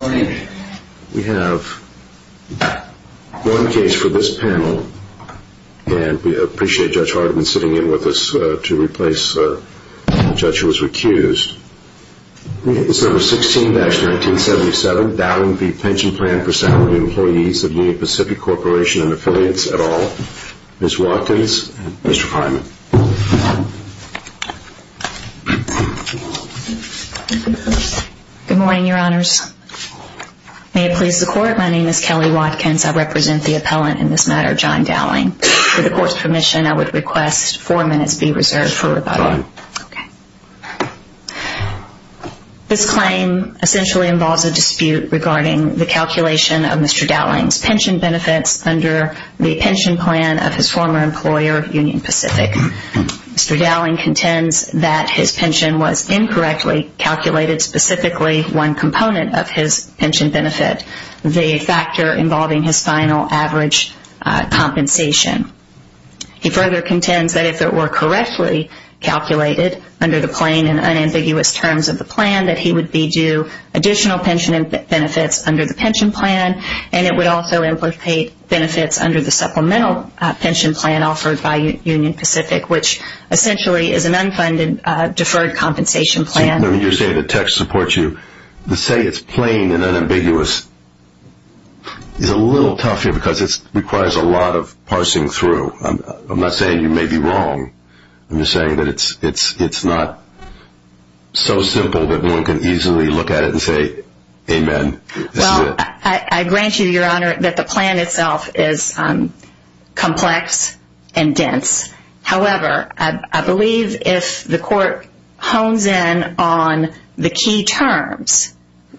Good morning. We have one case for this panel, and we appreciate Judge Harden sitting in with us to replace the judge who was recused. It's number 16-1977, Dowling v. Pension Plan for Salary Employees of Union Pacific Corporation and Affiliates, et al. Ms. Watkins and Mr. Fineman. Good morning, your honors. May it please the court, my name is Kelly Watkins. I represent the appellant in this matter, John Dowling. With the court's permission, I would request four minutes be reserved for rebuttal. This claim essentially involves a dispute regarding the calculation of Mr. Dowling's pension benefits under the pension plan of his former employer, Union Pacific. Mr. Dowling contends that his pension was incorrectly calculated, specifically one component of his pension benefit, the factor involving his final average compensation. He further contends that if it were correctly calculated under the plain and unambiguous terms of the plan, that he would be due additional pension benefits under the pension plan, and it would also implicate benefits under the supplemental pension plan offered by Union Pacific, which essentially is an unfunded deferred compensation plan. When you say the text supports you, to say it's plain and unambiguous is a little tough here because it requires a lot of parsing through. I'm not saying you may be wrong. I'm just saying that it's not so simple that one can easily look at it and say, amen. I grant you, Your Honor, that the plan itself is complex and dense. However, I believe if the court hones in on the key terms,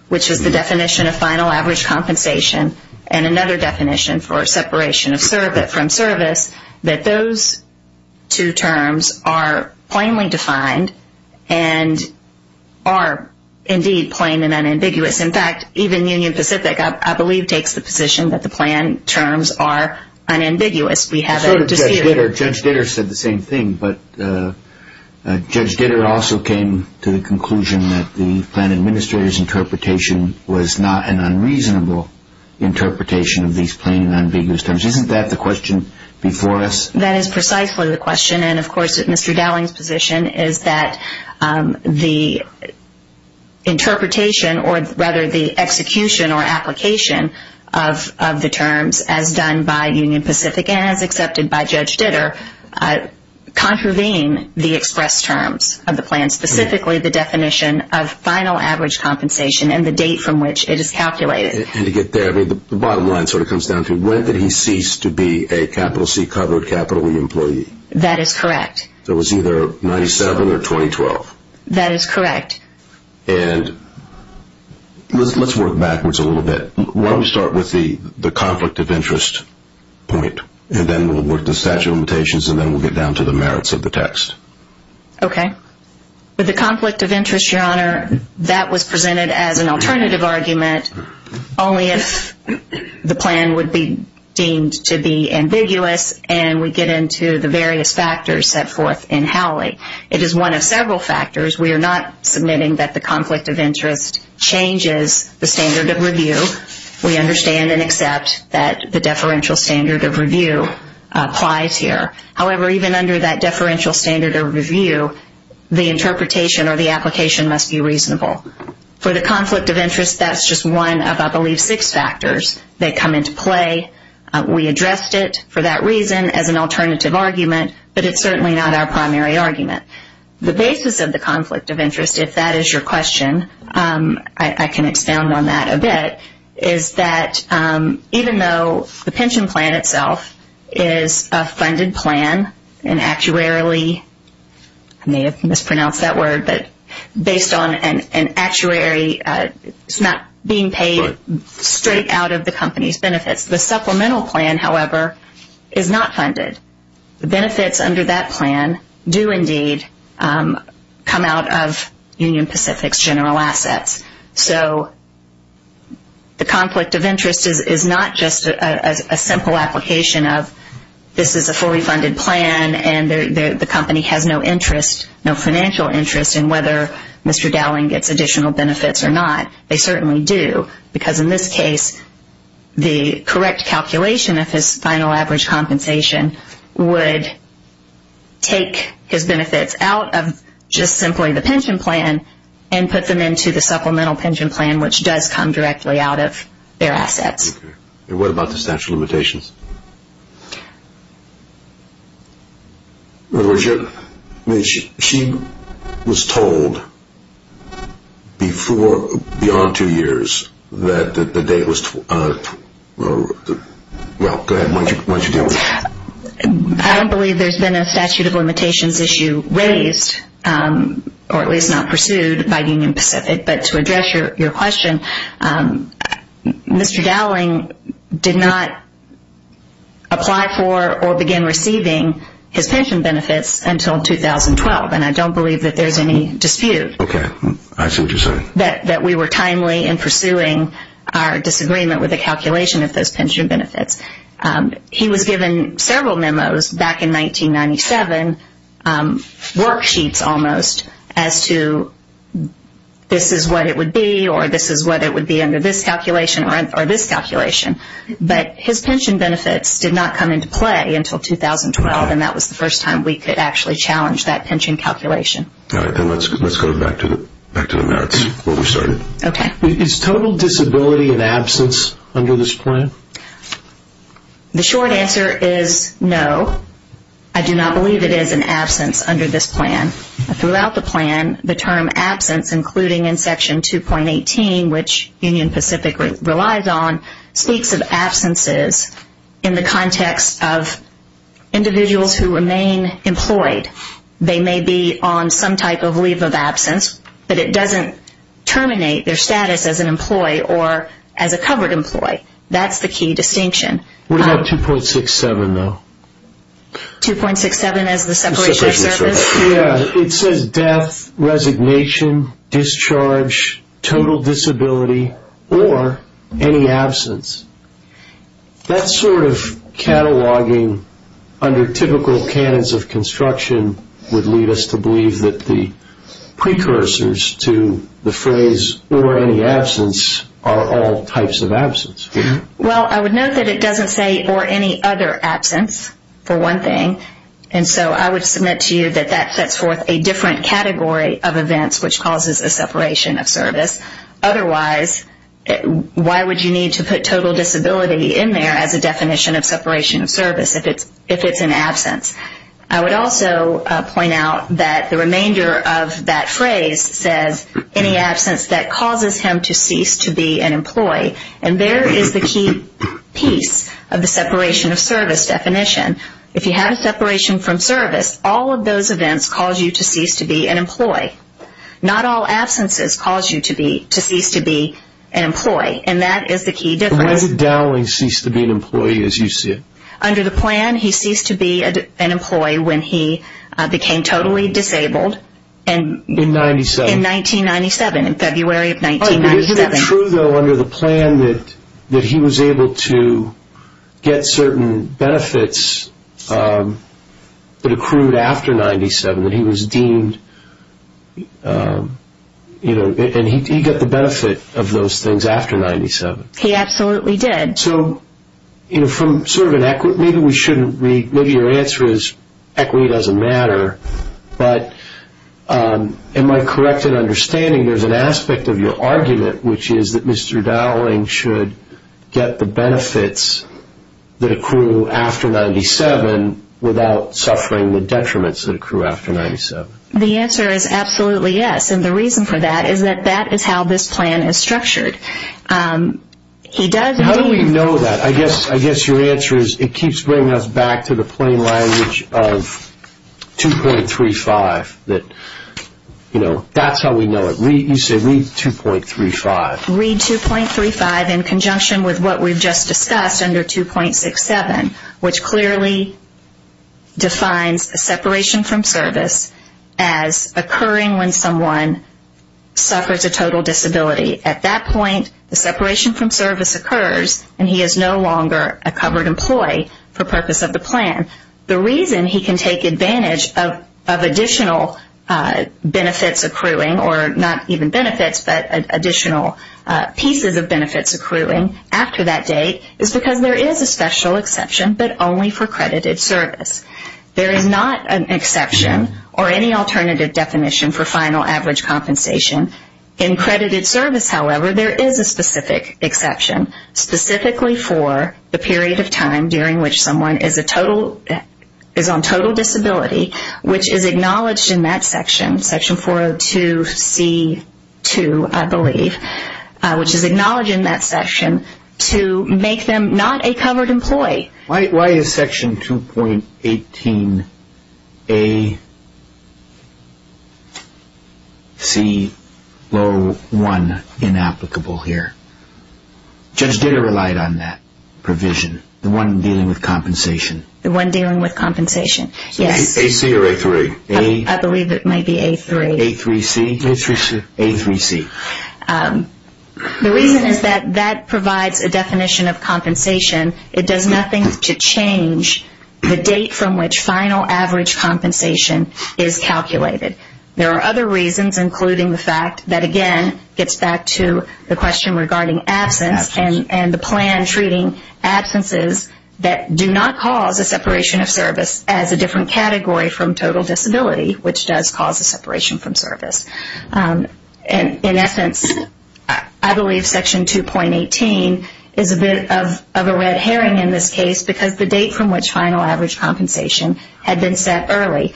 which is the definition of final average compensation and another definition for separation from service, that those two terms are plainly defined and are indeed plain and unambiguous. In fact, even Union Pacific, I believe, takes the position that the plan terms are unambiguous. Judge Ditter said the same thing, but Judge Ditter also came to the conclusion that the plan administrator's interpretation was not an unreasonable interpretation of these plain and unambiguous terms. Isn't that the question before us? That is precisely the question. Of course, Mr. Dowling's position is that the interpretation or rather the execution or application of the terms as done by Union Pacific and as accepted by Judge Ditter contravene the express terms of the plan, specifically the definition of final average compensation and the date from which it is calculated. And to get there, the bottom line sort of comes down to when did he cease to be a capital C covered capital E employee? That is correct. So it was either 1997 or 2012? That is correct. And let's work backwards a little bit. Why don't we start with the conflict of interest point and then we'll work the statute of limitations and then we'll get down to the merits of the text. Okay. With the conflict of interest, Your Honor, that was presented as an alternative argument only if the plan would be deemed to be ambiguous and we get into the various factors set forth in Howley. It is one of several factors. We are not submitting that the conflict of interest changes the standard of review. We understand and accept that the deferential standard of review applies here. However, even under that deferential standard of review, the interpretation or the application must be reasonable. For the conflict of interest, that's just one of, I believe, six factors that come into play. We addressed it for that reason as an alternative argument, but it's certainly not our primary argument. The basis of the conflict of interest, if that is your question, I can expound on that a bit, is that even though the pension plan itself is a funded plan and actuarially, I may have mispronounced that word, but based on an actuary, it's not being paid straight out of the company's benefits. The supplemental plan, however, is not funded. The benefits under that plan do indeed come out of Union Pacific's general assets. So the conflict of interest is not just a simple application of this is a fully funded plan and the company has no financial interest in whether Mr. Dowling gets additional benefits or not. They certainly do, because in this case, the correct calculation of his final average compensation would take his benefits out of just simply the pension plan and put them into the supplemental pension plan, which does come directly out of their assets. What about the statute of limitations? I don't believe there's been a statute of limitations issue raised, or at least not pursued, by Union Pacific. But to address your question, Mr. Dowling did not apply for or begin receiving his pension benefits until 2012, and I don't believe that there's any dispute that we were timely in pursuing our disagreement with the calculation of those pension benefits. He was given several memos back in 1997, worksheets almost, as to this is what it would be or this is what it would be under this calculation or this calculation. But his pension benefits did not come into play until 2012, and that was the first time we could actually challenge that pension calculation. Let's go back to the merits where we started. Is total disability an absence under this plan? The short answer is no, I do not believe it is an absence under this plan. Throughout the plan, the term absence, including in Section 2.18, which Union Pacific relies on, speaks of absences in the context of individuals who remain employed. They may be on some type of leave of absence, but it doesn't terminate their status as an employee or as a covered employee. That's the key distinction. What about 2.67, though? 2.67 as the separation of service? Yeah, it says death, resignation, discharge, total disability, or any absence. That sort of cataloging under typical canons of construction would lead us to believe that the precursors to the phrase or any absence are all types of absence. Well, I would note that it doesn't say or any other absence, for one thing, and so I would submit to you that that sets forth a different category of events, which causes a separation of service. Otherwise, why would you need to put total disability in there as a definition of separation of service if it's an absence? I would also point out that the remainder of that phrase says any absence that causes him to cease to be an employee, and there is the key piece of the separation of service definition. If you have a separation from service, all of those events cause you to cease to be an employee. Not all absences cause you to cease to be an employee, and that is the key difference. Why did Dowling cease to be an employee, as you see it? Under the plan, he ceased to be an employee when he became totally disabled in 1997, in February of 1997. Is it true, though, under the plan that he was able to get certain benefits that accrued after 1997, that he was deemed – and he got the benefit of those things after 1997? He absolutely did. So from sort of an – maybe we shouldn't – maybe your answer is equity doesn't matter, but am I correct in understanding there's an aspect of your argument, which is that Mr. Dowling should get the benefits that accrue after 1997 without suffering the detriments that accrue after 1997? The answer is absolutely yes, and the reason for that is that that is how this plan is structured. He does – How do we know that? I guess your answer is it keeps bringing us back to the plain language of 2.35, that, you know, that's how we know it. You say read 2.35. Read 2.35 in conjunction with what we've just discussed under 2.67, which clearly defines the separation from service as occurring when someone suffers a total disability. At that point, the separation from service occurs, and he is no longer a covered employee for purpose of the plan. The reason he can take advantage of additional benefits accruing, or not even benefits, but additional pieces of benefits accruing after that date is because there is a special exception, but only for credited service. There is not an exception or any alternative definition for final average compensation. In credited service, however, there is a specific exception, specifically for the period of time during which someone is on total disability, which is acknowledged in that section, section 402C2, I believe, which is acknowledged in that section to make them not a covered employee. Why is section 2.18AC01 inapplicable here? Judge Ditter relied on that provision, the one dealing with compensation. The one dealing with compensation, yes. AC or A3? I believe it might be A3. A3C? A3C. A3C. The reason is that that provides a definition of compensation. It does nothing to change the date from which final average compensation is calculated. There are other reasons, including the fact that, again, gets back to the question regarding absence and the plan treating absences that do not cause a separation of service as a different category from total disability, which does cause a separation from service. In essence, I believe section 2.18 is a bit of a red herring in this case because the date from which final average compensation had been set early.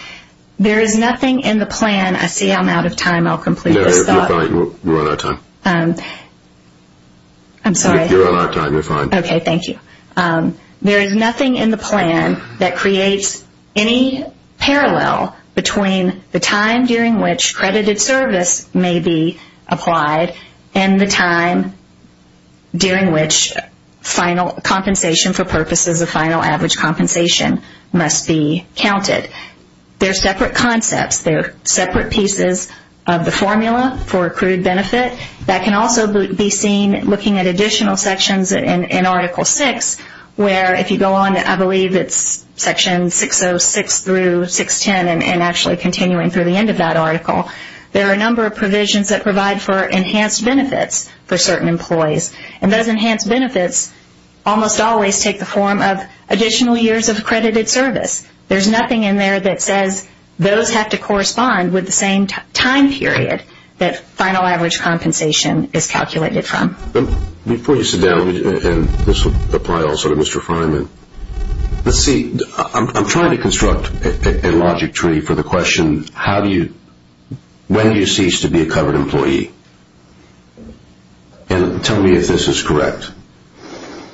There is nothing in the plan. I see I'm out of time. I'll complete this thought. No, you're fine. We're on our time. I'm sorry. You're on our time. You're fine. Okay, thank you. There is nothing in the plan that creates any parallel between the time during which credited service may be applied and the time during which final compensation for purposes of final average compensation must be counted. They're separate concepts. They're separate pieces of the formula for accrued benefit. That can also be seen looking at additional sections in Article VI, where if you go on, I believe it's sections 606 through 610 and actually continuing through the end of that article, there are a number of provisions that provide for enhanced benefits for certain employees. And those enhanced benefits almost always take the form of additional years of credited service. There's nothing in there that says those have to correspond with the same time period that final average compensation is calculated from. Before you sit down, and this will apply also to Mr. Freiman, let's see, I'm trying to construct a logic tree for the question, when do you cease to be a covered employee? And tell me if this is correct.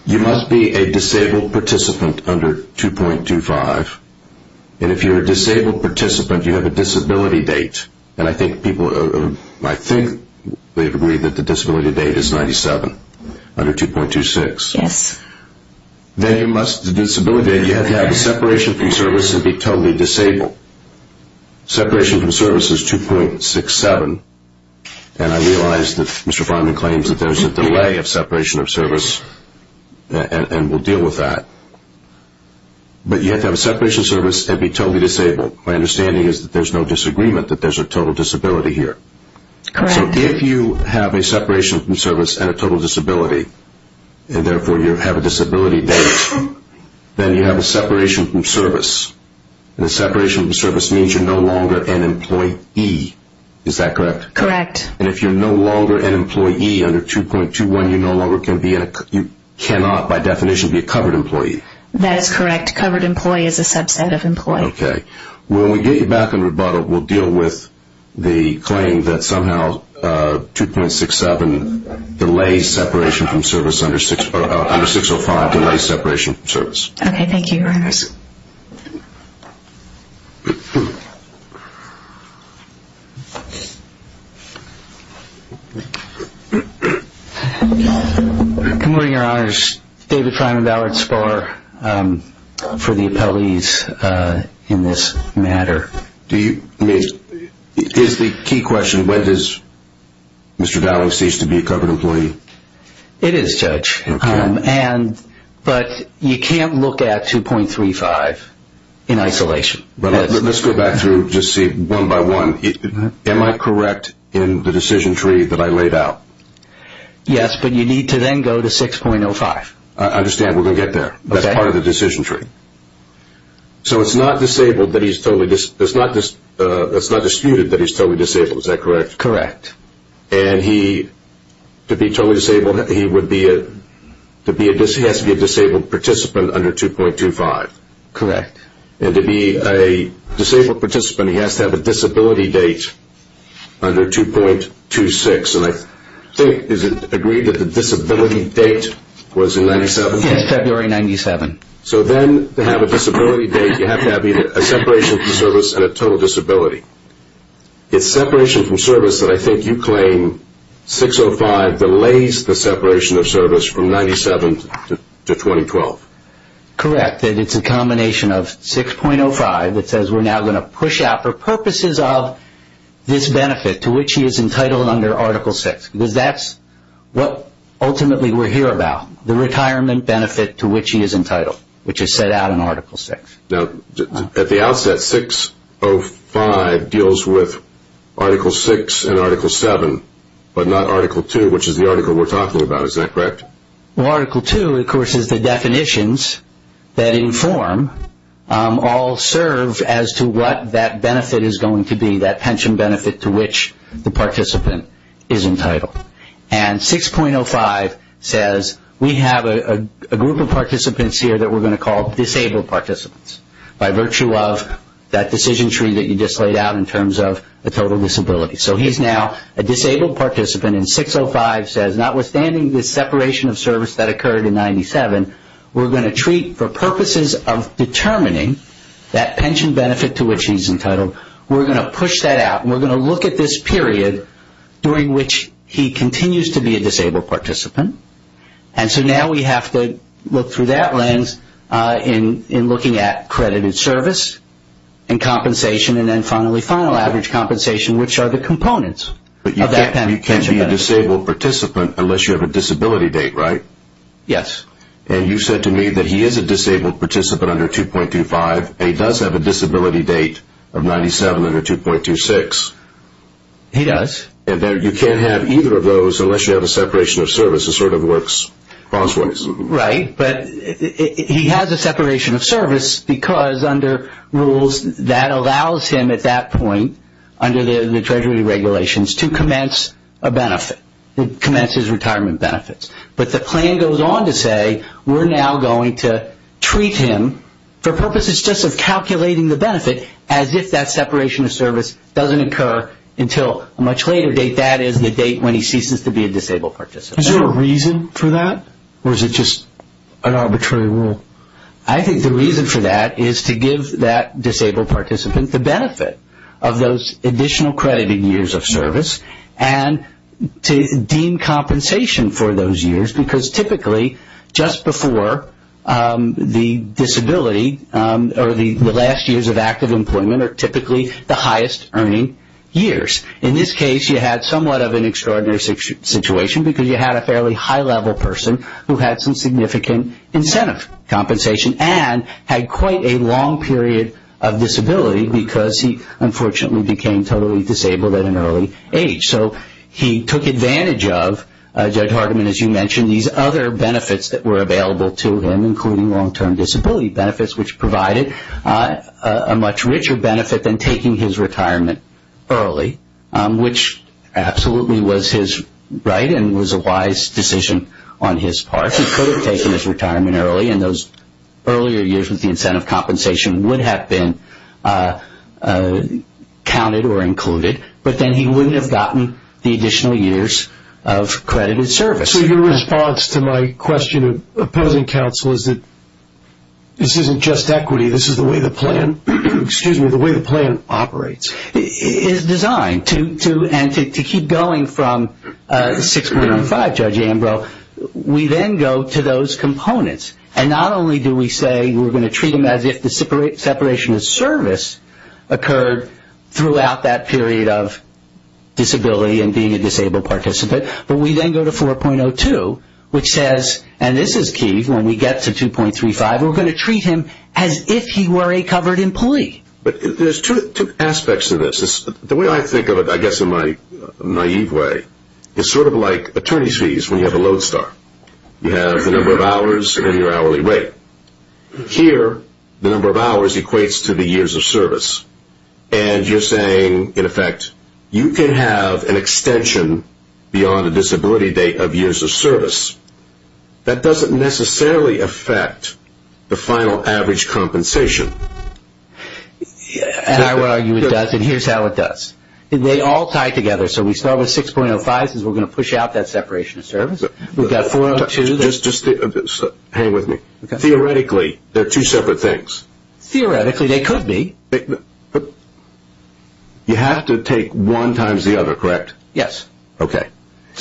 You must be a disabled participant under 2.25. And if you're a disabled participant, you have a disability date. And I think people agree that the disability date is 97 under 2.26. Yes. The disability date, you have to have a separation from service and be totally disabled. Separation from service is 2.67, and I realize that Mr. Freiman claims that there's a delay of separation of service, and we'll deal with that. But you have to have a separation of service and be totally disabled. My understanding is that there's no disagreement, that there's a total disability here. Correct. So if you have a separation from service and a total disability, and therefore you have a disability date, then you have a separation from service. And a separation from service means you're no longer an employee. Is that correct? Correct. And if you're no longer an employee under 2.21, you no longer can be, you cannot by definition be a covered employee. That is correct. Covered employee is a subset of employee. Okay. When we get you back in rebuttal, we'll deal with the claim that somehow 2.67 delays separation from service, under 605 delays separation from service. Thank you, Your Honors. Good morning, Your Honors. David Fryman, Ballard Sparr, for the appellees in this matter. Here's the key question. When does Mr. Dowling cease to be a covered employee? It is, Judge. Okay. But you can't look at 2.35 in isolation. Let's go back through, just see one by one. Am I correct in the decision tree that I laid out? Yes, but you need to then go to 6.05. I understand. We're going to get there. That's part of the decision tree. So it's not disputed that he's totally disabled. Is that correct? Correct. And to be totally disabled, he has to be a disabled participant under 2.25. Correct. And to be a disabled participant, he has to have a disability date under 2.26. And I think, is it agreed that the disability date was in 97? Yes, February 97. So then to have a disability date, you have to have either a separation from service and a total disability. It's separation from service that I think you claim 6.05 delays the separation of service from 97 to 2012. Correct. And it's a combination of 6.05 that says we're now going to push out for purposes of this benefit, to which he is entitled under Article VI, because that's what ultimately we're here about, the retirement benefit to which he is entitled, which is set out in Article VI. Now, at the outset, 6.05 deals with Article VI and Article VII, but not Article II, which is the article we're talking about. Is that correct? Well, Article II, of course, is the definitions that inform, all serve as to what that benefit is going to be, that pension benefit to which the participant is entitled. And 6.05 says we have a group of participants here that we're going to call disabled participants, by virtue of that decision tree that you just laid out in terms of a total disability. So he's now a disabled participant, and 6.05 says notwithstanding the separation of service that occurred in 97, we're going to treat for purposes of determining that pension benefit to which he's entitled, we're going to push that out, and we're going to look at this period during which he continues to be a disabled participant. And so now we have to look through that lens in looking at credited service and compensation, and then finally final average compensation, which are the components of that pension benefit. But you can't be a disabled participant unless you have a disability date, right? Yes. And you said to me that he is a disabled participant under 2.25, and he does have a disability date of 97 under 2.26. He does. And you can't have either of those unless you have a separation of service. It sort of works crosswise. Right, but he has a separation of service because under rules that allows him at that point, under the Treasury regulations, to commence a benefit, to commence his retirement benefits. But the plan goes on to say we're now going to treat him for purposes just of calculating the benefit as if that separation of service doesn't occur until a much later date. That is the date when he ceases to be a disabled participant. Is there a reason for that, or is it just an arbitrary rule? I think the reason for that is to give that disabled participant the benefit of those additional credited years of service and to deem compensation for those years because typically just before the disability or the last years of active employment are typically the highest earning years. In this case, you had somewhat of an extraordinary situation because you had a fairly high-level person who had some significant incentive compensation and had quite a long period of disability because he unfortunately became totally disabled at an early age. So he took advantage of, Judge Hardiman, as you mentioned, these other benefits that were available to him, including long-term disability benefits, which provided a much richer benefit than taking his retirement early, which absolutely was his right and was a wise decision on his part. He could have taken his retirement early, and those earlier years with the incentive compensation would have been counted or included, but then he wouldn't have gotten the additional years of credited service. So your response to my question of opposing counsel is that this isn't just equity, this is the way the plan operates. It is designed to, and to keep going from 6.15, Judge Ambrose, we then go to those components. And not only do we say we're going to treat him as if the separation of service occurred throughout that period of disability and being a disabled participant, but we then go to 4.02, which says, and this is key, when we get to 2.35, we're going to treat him as if he were a covered employee. There's two aspects to this. The way I think of it, I guess in my naive way, is sort of like attorney's fees when you have a Lodestar. You have the number of hours and your hourly rate. Here, the number of hours equates to the years of service. And you're saying, in effect, you can have an extension beyond a disability date of years of service. That doesn't necessarily affect the final average compensation. I would argue it does, and here's how it does. They all tie together. So we start with 6.05, since we're going to push out that separation of service. We've got 4.02. Hang with me. Theoretically, they're two separate things. Theoretically, they could be. You have to take one times the other, correct? Yes. Okay.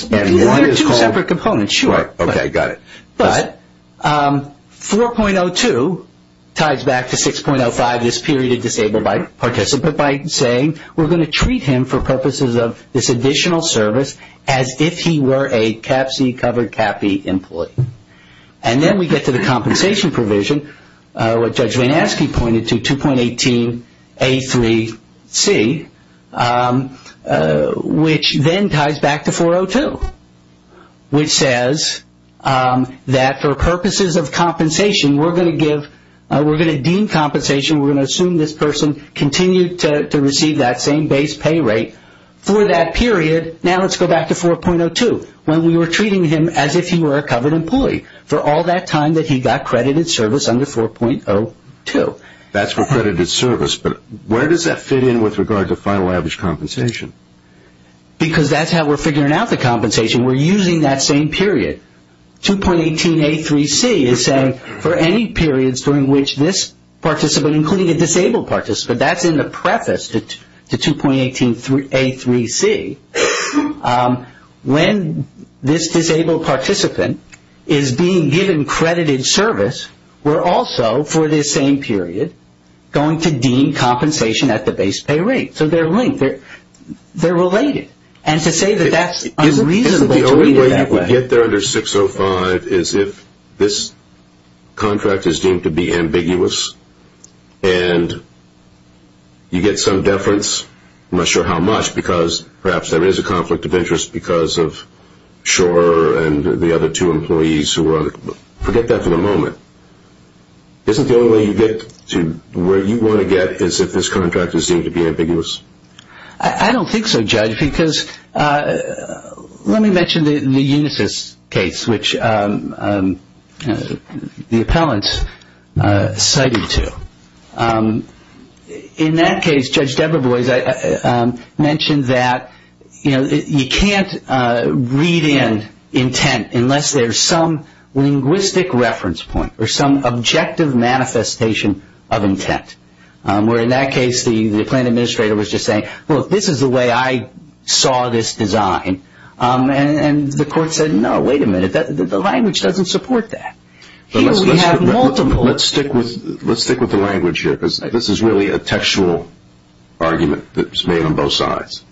One or two separate components, sure. Okay, got it. But 4.02 ties back to 6.05, this period of disabled participant, by saying we're going to treat him for purposes of this additional service as if he were a CAPC covered CAPI employee. And then we get to the compensation provision, what Judge Van Aske pointed to, 2.18A3C, which then ties back to 4.02, which says that for purposes of compensation, we're going to give or we're going to deem compensation, we're going to assume this person continued to receive that same base pay rate for that period. Now let's go back to 4.02, when we were treating him as if he were a covered employee for all that time that he got credited service under 4.02. That's for credited service, but where does that fit in with regard to final average compensation? Because that's how we're figuring out the compensation. We're using that same period. 2.18A3C is saying for any periods during which this participant, including a disabled participant, that's in the preface to 2.18A3C, when this disabled participant is being given credited service, we're also, for this same period, going to deem compensation at the base pay rate. So they're linked. They're related. And to say that that's unreasonable to read it that way. The only way you get there under 6.05 is if this contract is deemed to be ambiguous and you get some deference, I'm not sure how much, because perhaps there is a conflict of interest because of Schor and the other two employees who were on it. Forget that for the moment. Isn't the only way you get to where you want to get is if this contract is deemed to be ambiguous? I don't think so, Judge, because let me mention the Unisys case, which the appellant cited to. In that case, Judge Debra Boies mentioned that, you know, you can't read in intent unless there's some linguistic reference point or some objective manifestation of intent. Where in that case the plaintiff administrator was just saying, look, this is the way I saw this design. And the court said, no, wait a minute, the language doesn't support that. Let's stick with the language here because this is really a textual argument that's made on both sides.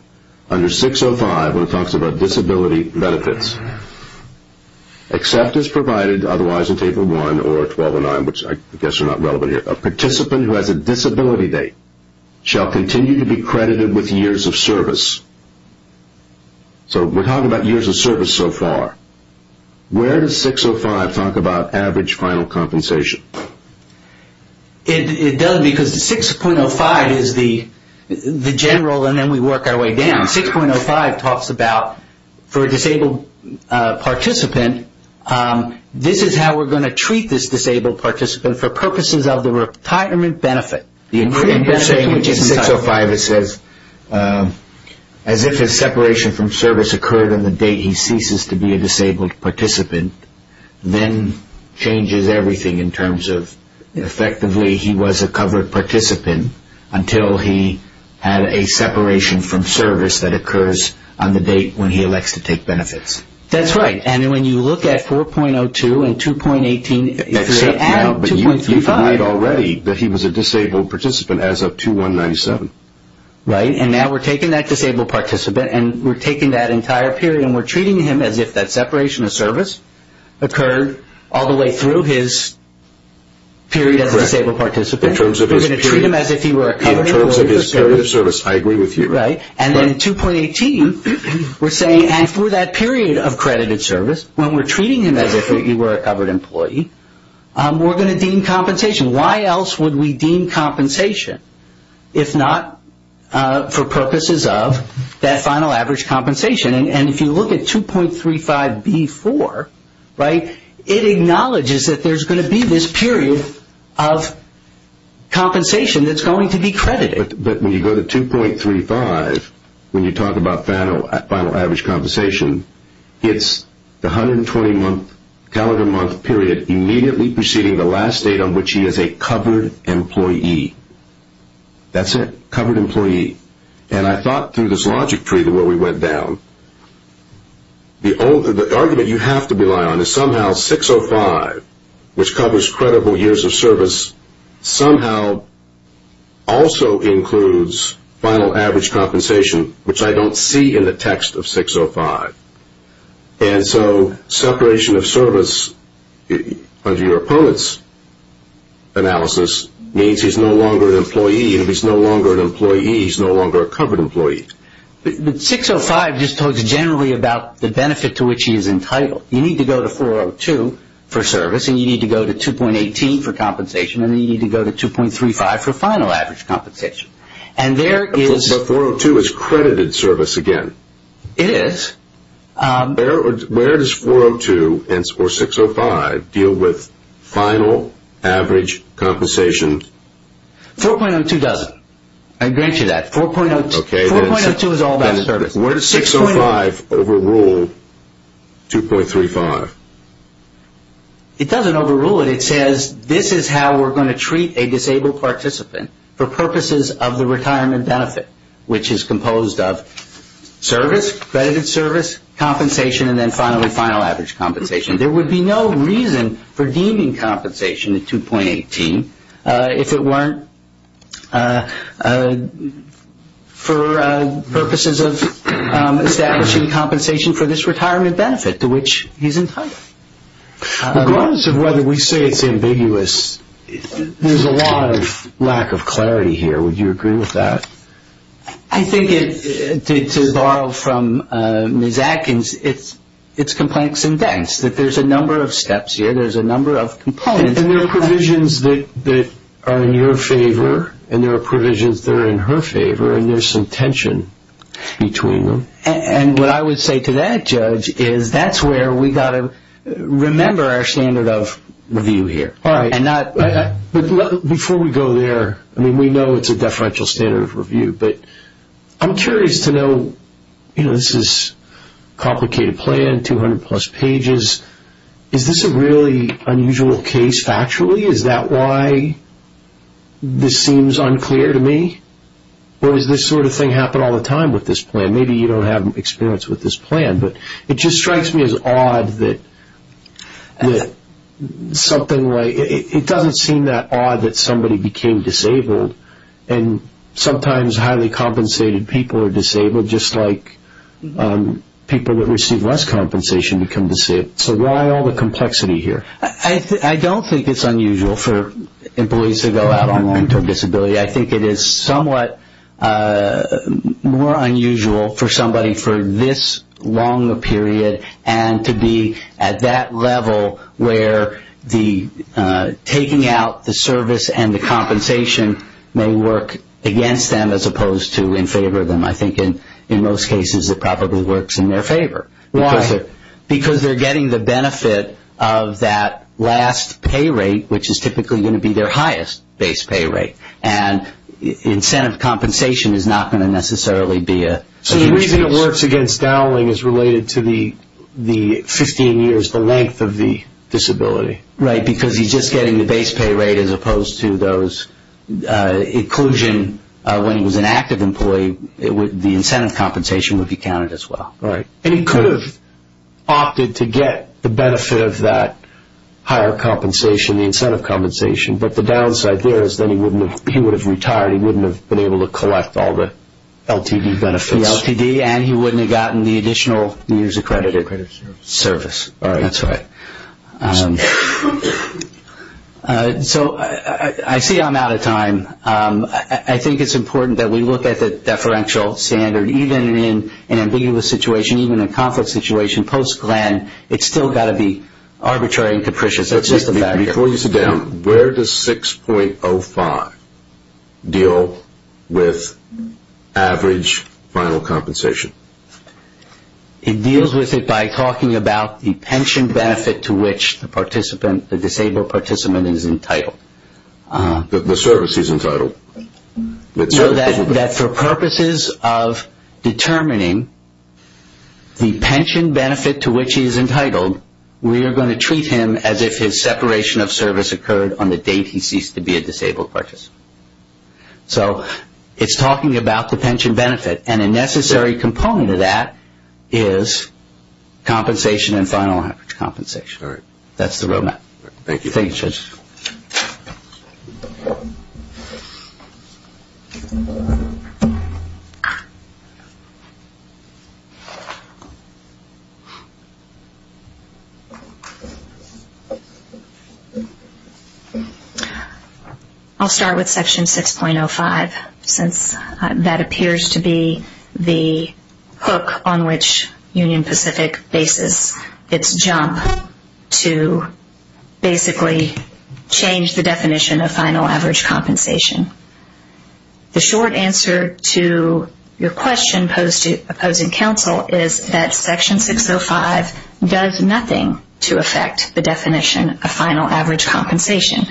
Under 6.05 when it talks about disability benefits, except as provided otherwise in Table 1 or 1209, which I guess are not relevant here, a participant who has a disability date shall continue to be credited with years of service. So we're talking about years of service so far. Where does 6.05 talk about average final compensation? It does because 6.05 is the general and then we work our way down. 6.05 talks about for a disabled participant, this is how we're going to treat this disabled participant for purposes of the retirement benefit. In 6.05 it says, as if his separation from service occurred on the date he ceases to be a disabled participant, then changes everything in terms of effectively he was a covered participant until he had a separation from service that occurs on the date when he elects to take benefits. That's right. And when you look at 4.02 and 2.18, 2.35. But you've denied already that he was a disabled participant as of 2-1-97. Right. And now we're taking that disabled participant and we're taking that entire period and we're treating him as if that separation of service occurred all the way through his period as a disabled participant. We're going to treat him as if he were a covered employee. In terms of his period of service, I agree with you. Right. And then 2.18 we're saying, and for that period of credited service, when we're treating him as if he were a covered employee, we're going to deem compensation. Why else would we deem compensation if not for purposes of that final average compensation? And if you look at 2.35b.4, right, it acknowledges that there's going to be this period of compensation that's going to be credited. But when you go to 2.35, when you talk about final average compensation, it's the 120 month calendar month period immediately preceding the last date on which he is a covered employee. That's it, covered employee. And I thought through this logic tree the way we went down, the argument you have to rely on is somehow 6.05, which covers credible years of service, somehow also includes final average compensation, which I don't see in the text of 6.05. And so separation of service under your opponent's analysis means he's no longer an employee. And if he's no longer an employee, he's no longer a covered employee. But 6.05 just talks generally about the benefit to which he is entitled. You need to go to 4.02 for service, and you need to go to 2.18 for compensation, and then you need to go to 2.35 for final average compensation. But 4.02 is credited service again. It is. Where does 4.02 or 6.05 deal with final average compensation? 4.02 doesn't. I grant you that. 4.02 is all about service. Where does 6.05 overrule 2.35? It doesn't overrule it. It says this is how we're going to treat a disabled participant for purposes of the retirement benefit, which is composed of service, credited service, compensation, and then finally final average compensation. There would be no reason for deeming compensation a 2.18 if it weren't for purposes of establishing compensation for this retirement benefit to which he's entitled. Regardless of whether we say it's ambiguous, there's a lot of lack of clarity here. Would you agree with that? I think to borrow from Ms. Atkins, it's complex and dense, that there's a number of steps here. There's a number of components. And there are provisions that are in your favor, and there are provisions that are in her favor, and there's some tension between them. And what I would say to that, Judge, is that's where we've got to remember our standard of review here. Before we go there, I mean, we know it's a deferential standard of review, but I'm curious to know, you know, this is a complicated plan, 200-plus pages. Is this a really unusual case factually? Is that why this seems unclear to me? Or does this sort of thing happen all the time with this plan? Maybe you don't have experience with this plan, but it just strikes me as odd that something like it doesn't seem that odd that somebody became disabled, and sometimes highly compensated people are disabled, just like people that receive less compensation become disabled. So why all the complexity here? I don't think it's unusual for employees to go out on loan to a disability. I think it is somewhat more unusual for somebody for this long a period and to be at that level where the taking out the service and the compensation may work against them as opposed to in favor of them. I think in most cases it probably works in their favor. Why? Because they're getting the benefit of that last pay rate, which is typically going to be their highest base pay rate, and incentive compensation is not going to necessarily be a huge difference. So the reason it works against Dowling is related to the 15 years, the length of the disability. Right, because he's just getting the base pay rate as opposed to those inclusion. When he was an active employee, the incentive compensation would be counted as well. Right. And he could have opted to get the benefit of that higher compensation, the incentive compensation, but the downside there is then he would have retired. He wouldn't have been able to collect all the LTD benefits. The LTD, and he wouldn't have gotten the additional years accredited service. That's right. So I see I'm out of time. I think it's important that we look at the deferential standard. Even in an ambiguous situation, even in a conflict situation, post-Glenn, it's still got to be arbitrary and capricious. Before you sit down, where does 6.05 deal with average final compensation? It deals with it by talking about the pension benefit to which the participant, the disabled participant is entitled. The service he's entitled. That for purposes of determining the pension benefit to which he is entitled, we are going to treat him as if his separation of service occurred on the date he ceased to be a disabled participant. So it's talking about the pension benefit, and a necessary component of that is compensation and final average compensation. That's the roadmap. Thank you. I'll start with section 6.05, since that appears to be the hook on which Union Pacific bases its jump to basically change the definition of final average compensation. The short answer to your question, opposing counsel, is that section 6.05 does nothing to affect the definition of final average compensation.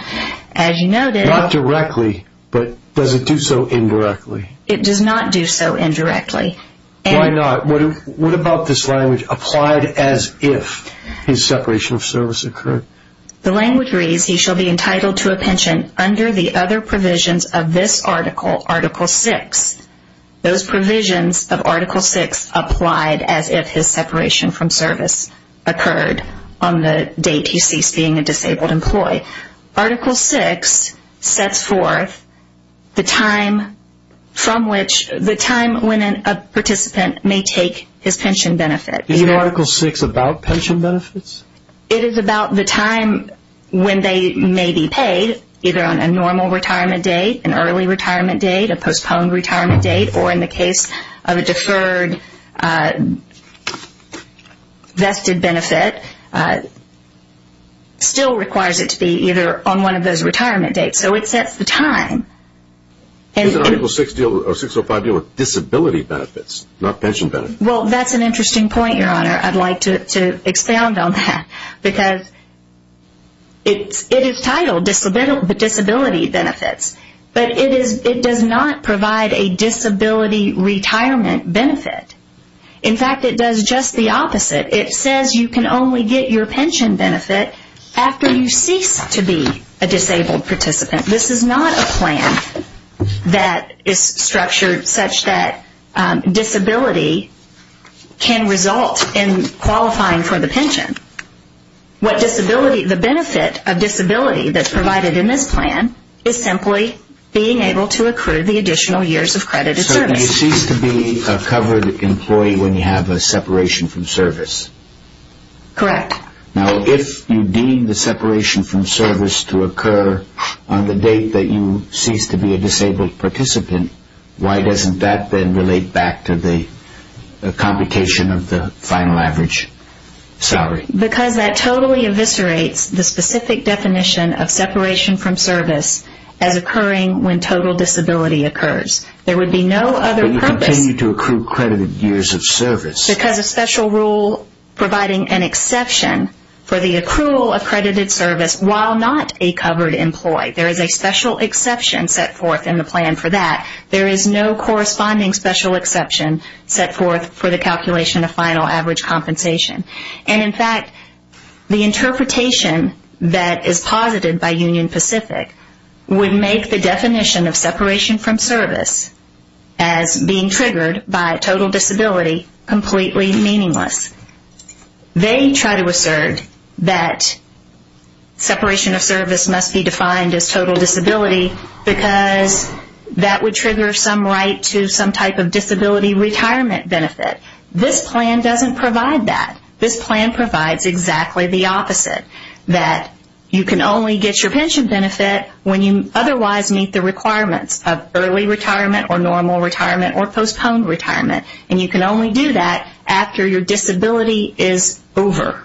Not directly, but does it do so indirectly? It does not do so indirectly. Why not? What about this language, applied as if his separation of service occurred? The language reads, he shall be entitled to a pension under the other provisions of this article, article 6. Those provisions of article 6 applied as if his separation from service occurred on the date he ceased being a disabled employee. Article 6 sets forth the time from which, the time when a participant may take his pension benefit. Is article 6 about pension benefits? It is about the time when they may be paid, either on a normal retirement date, an early retirement date, a postponed retirement date, or in the case of a deferred vested benefit, still requires it to be either on one of those retirement dates. So it sets the time. Isn't article 6.05 dealing with disability benefits, not pension benefits? Well, that's an interesting point, Your Honor. I'd like to expound on that because it is titled disability benefits, but it does not provide a disability retirement benefit. In fact, it does just the opposite. It says you can only get your pension benefit after you cease to be a disabled participant. This is not a plan that is structured such that disability can result in qualifying for the pension. The benefit of disability that's provided in this plan is simply being able to accrue the additional years of credit of service. So you cease to be a covered employee when you have a separation from service? Correct. Now, if you deem the separation from service to occur on the date that you cease to be a disabled participant, why doesn't that then relate back to the computation of the final average salary? Because that totally eviscerates the specific definition of separation from service as occurring when total disability occurs. There would be no other purpose. But you continue to accrue credited years of service. Because of special rule providing an exception for the accrual accredited service while not a covered employee. There is a special exception set forth in the plan for that. There is no corresponding special exception set forth for the calculation of final average compensation. And in fact, the interpretation that is posited by Union Pacific would make the definition of separation from service as being triggered by total disability completely meaningless. They try to assert that separation of service must be defined as total disability because that would trigger some right to some type of disability retirement benefit. This plan doesn't provide that. This plan provides exactly the opposite. That you can only get your pension benefit when you otherwise meet the requirements of early retirement or normal retirement or postponed retirement. And you can only do that after your disability is over.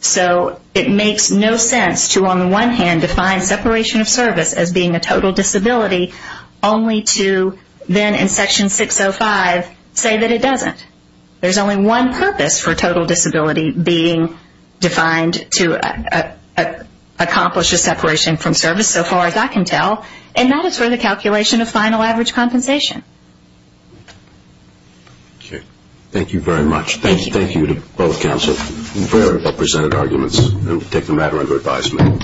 So it makes no sense to on the one hand define separation of service as being a total disability only to then in section 605 say that it doesn't. There is only one purpose for total disability being defined to accomplish a separation from service so far as I can tell. And that is for the calculation of final average compensation. Thank you very much. Thank you to both counsels for presenting arguments and taking the matter under advisement.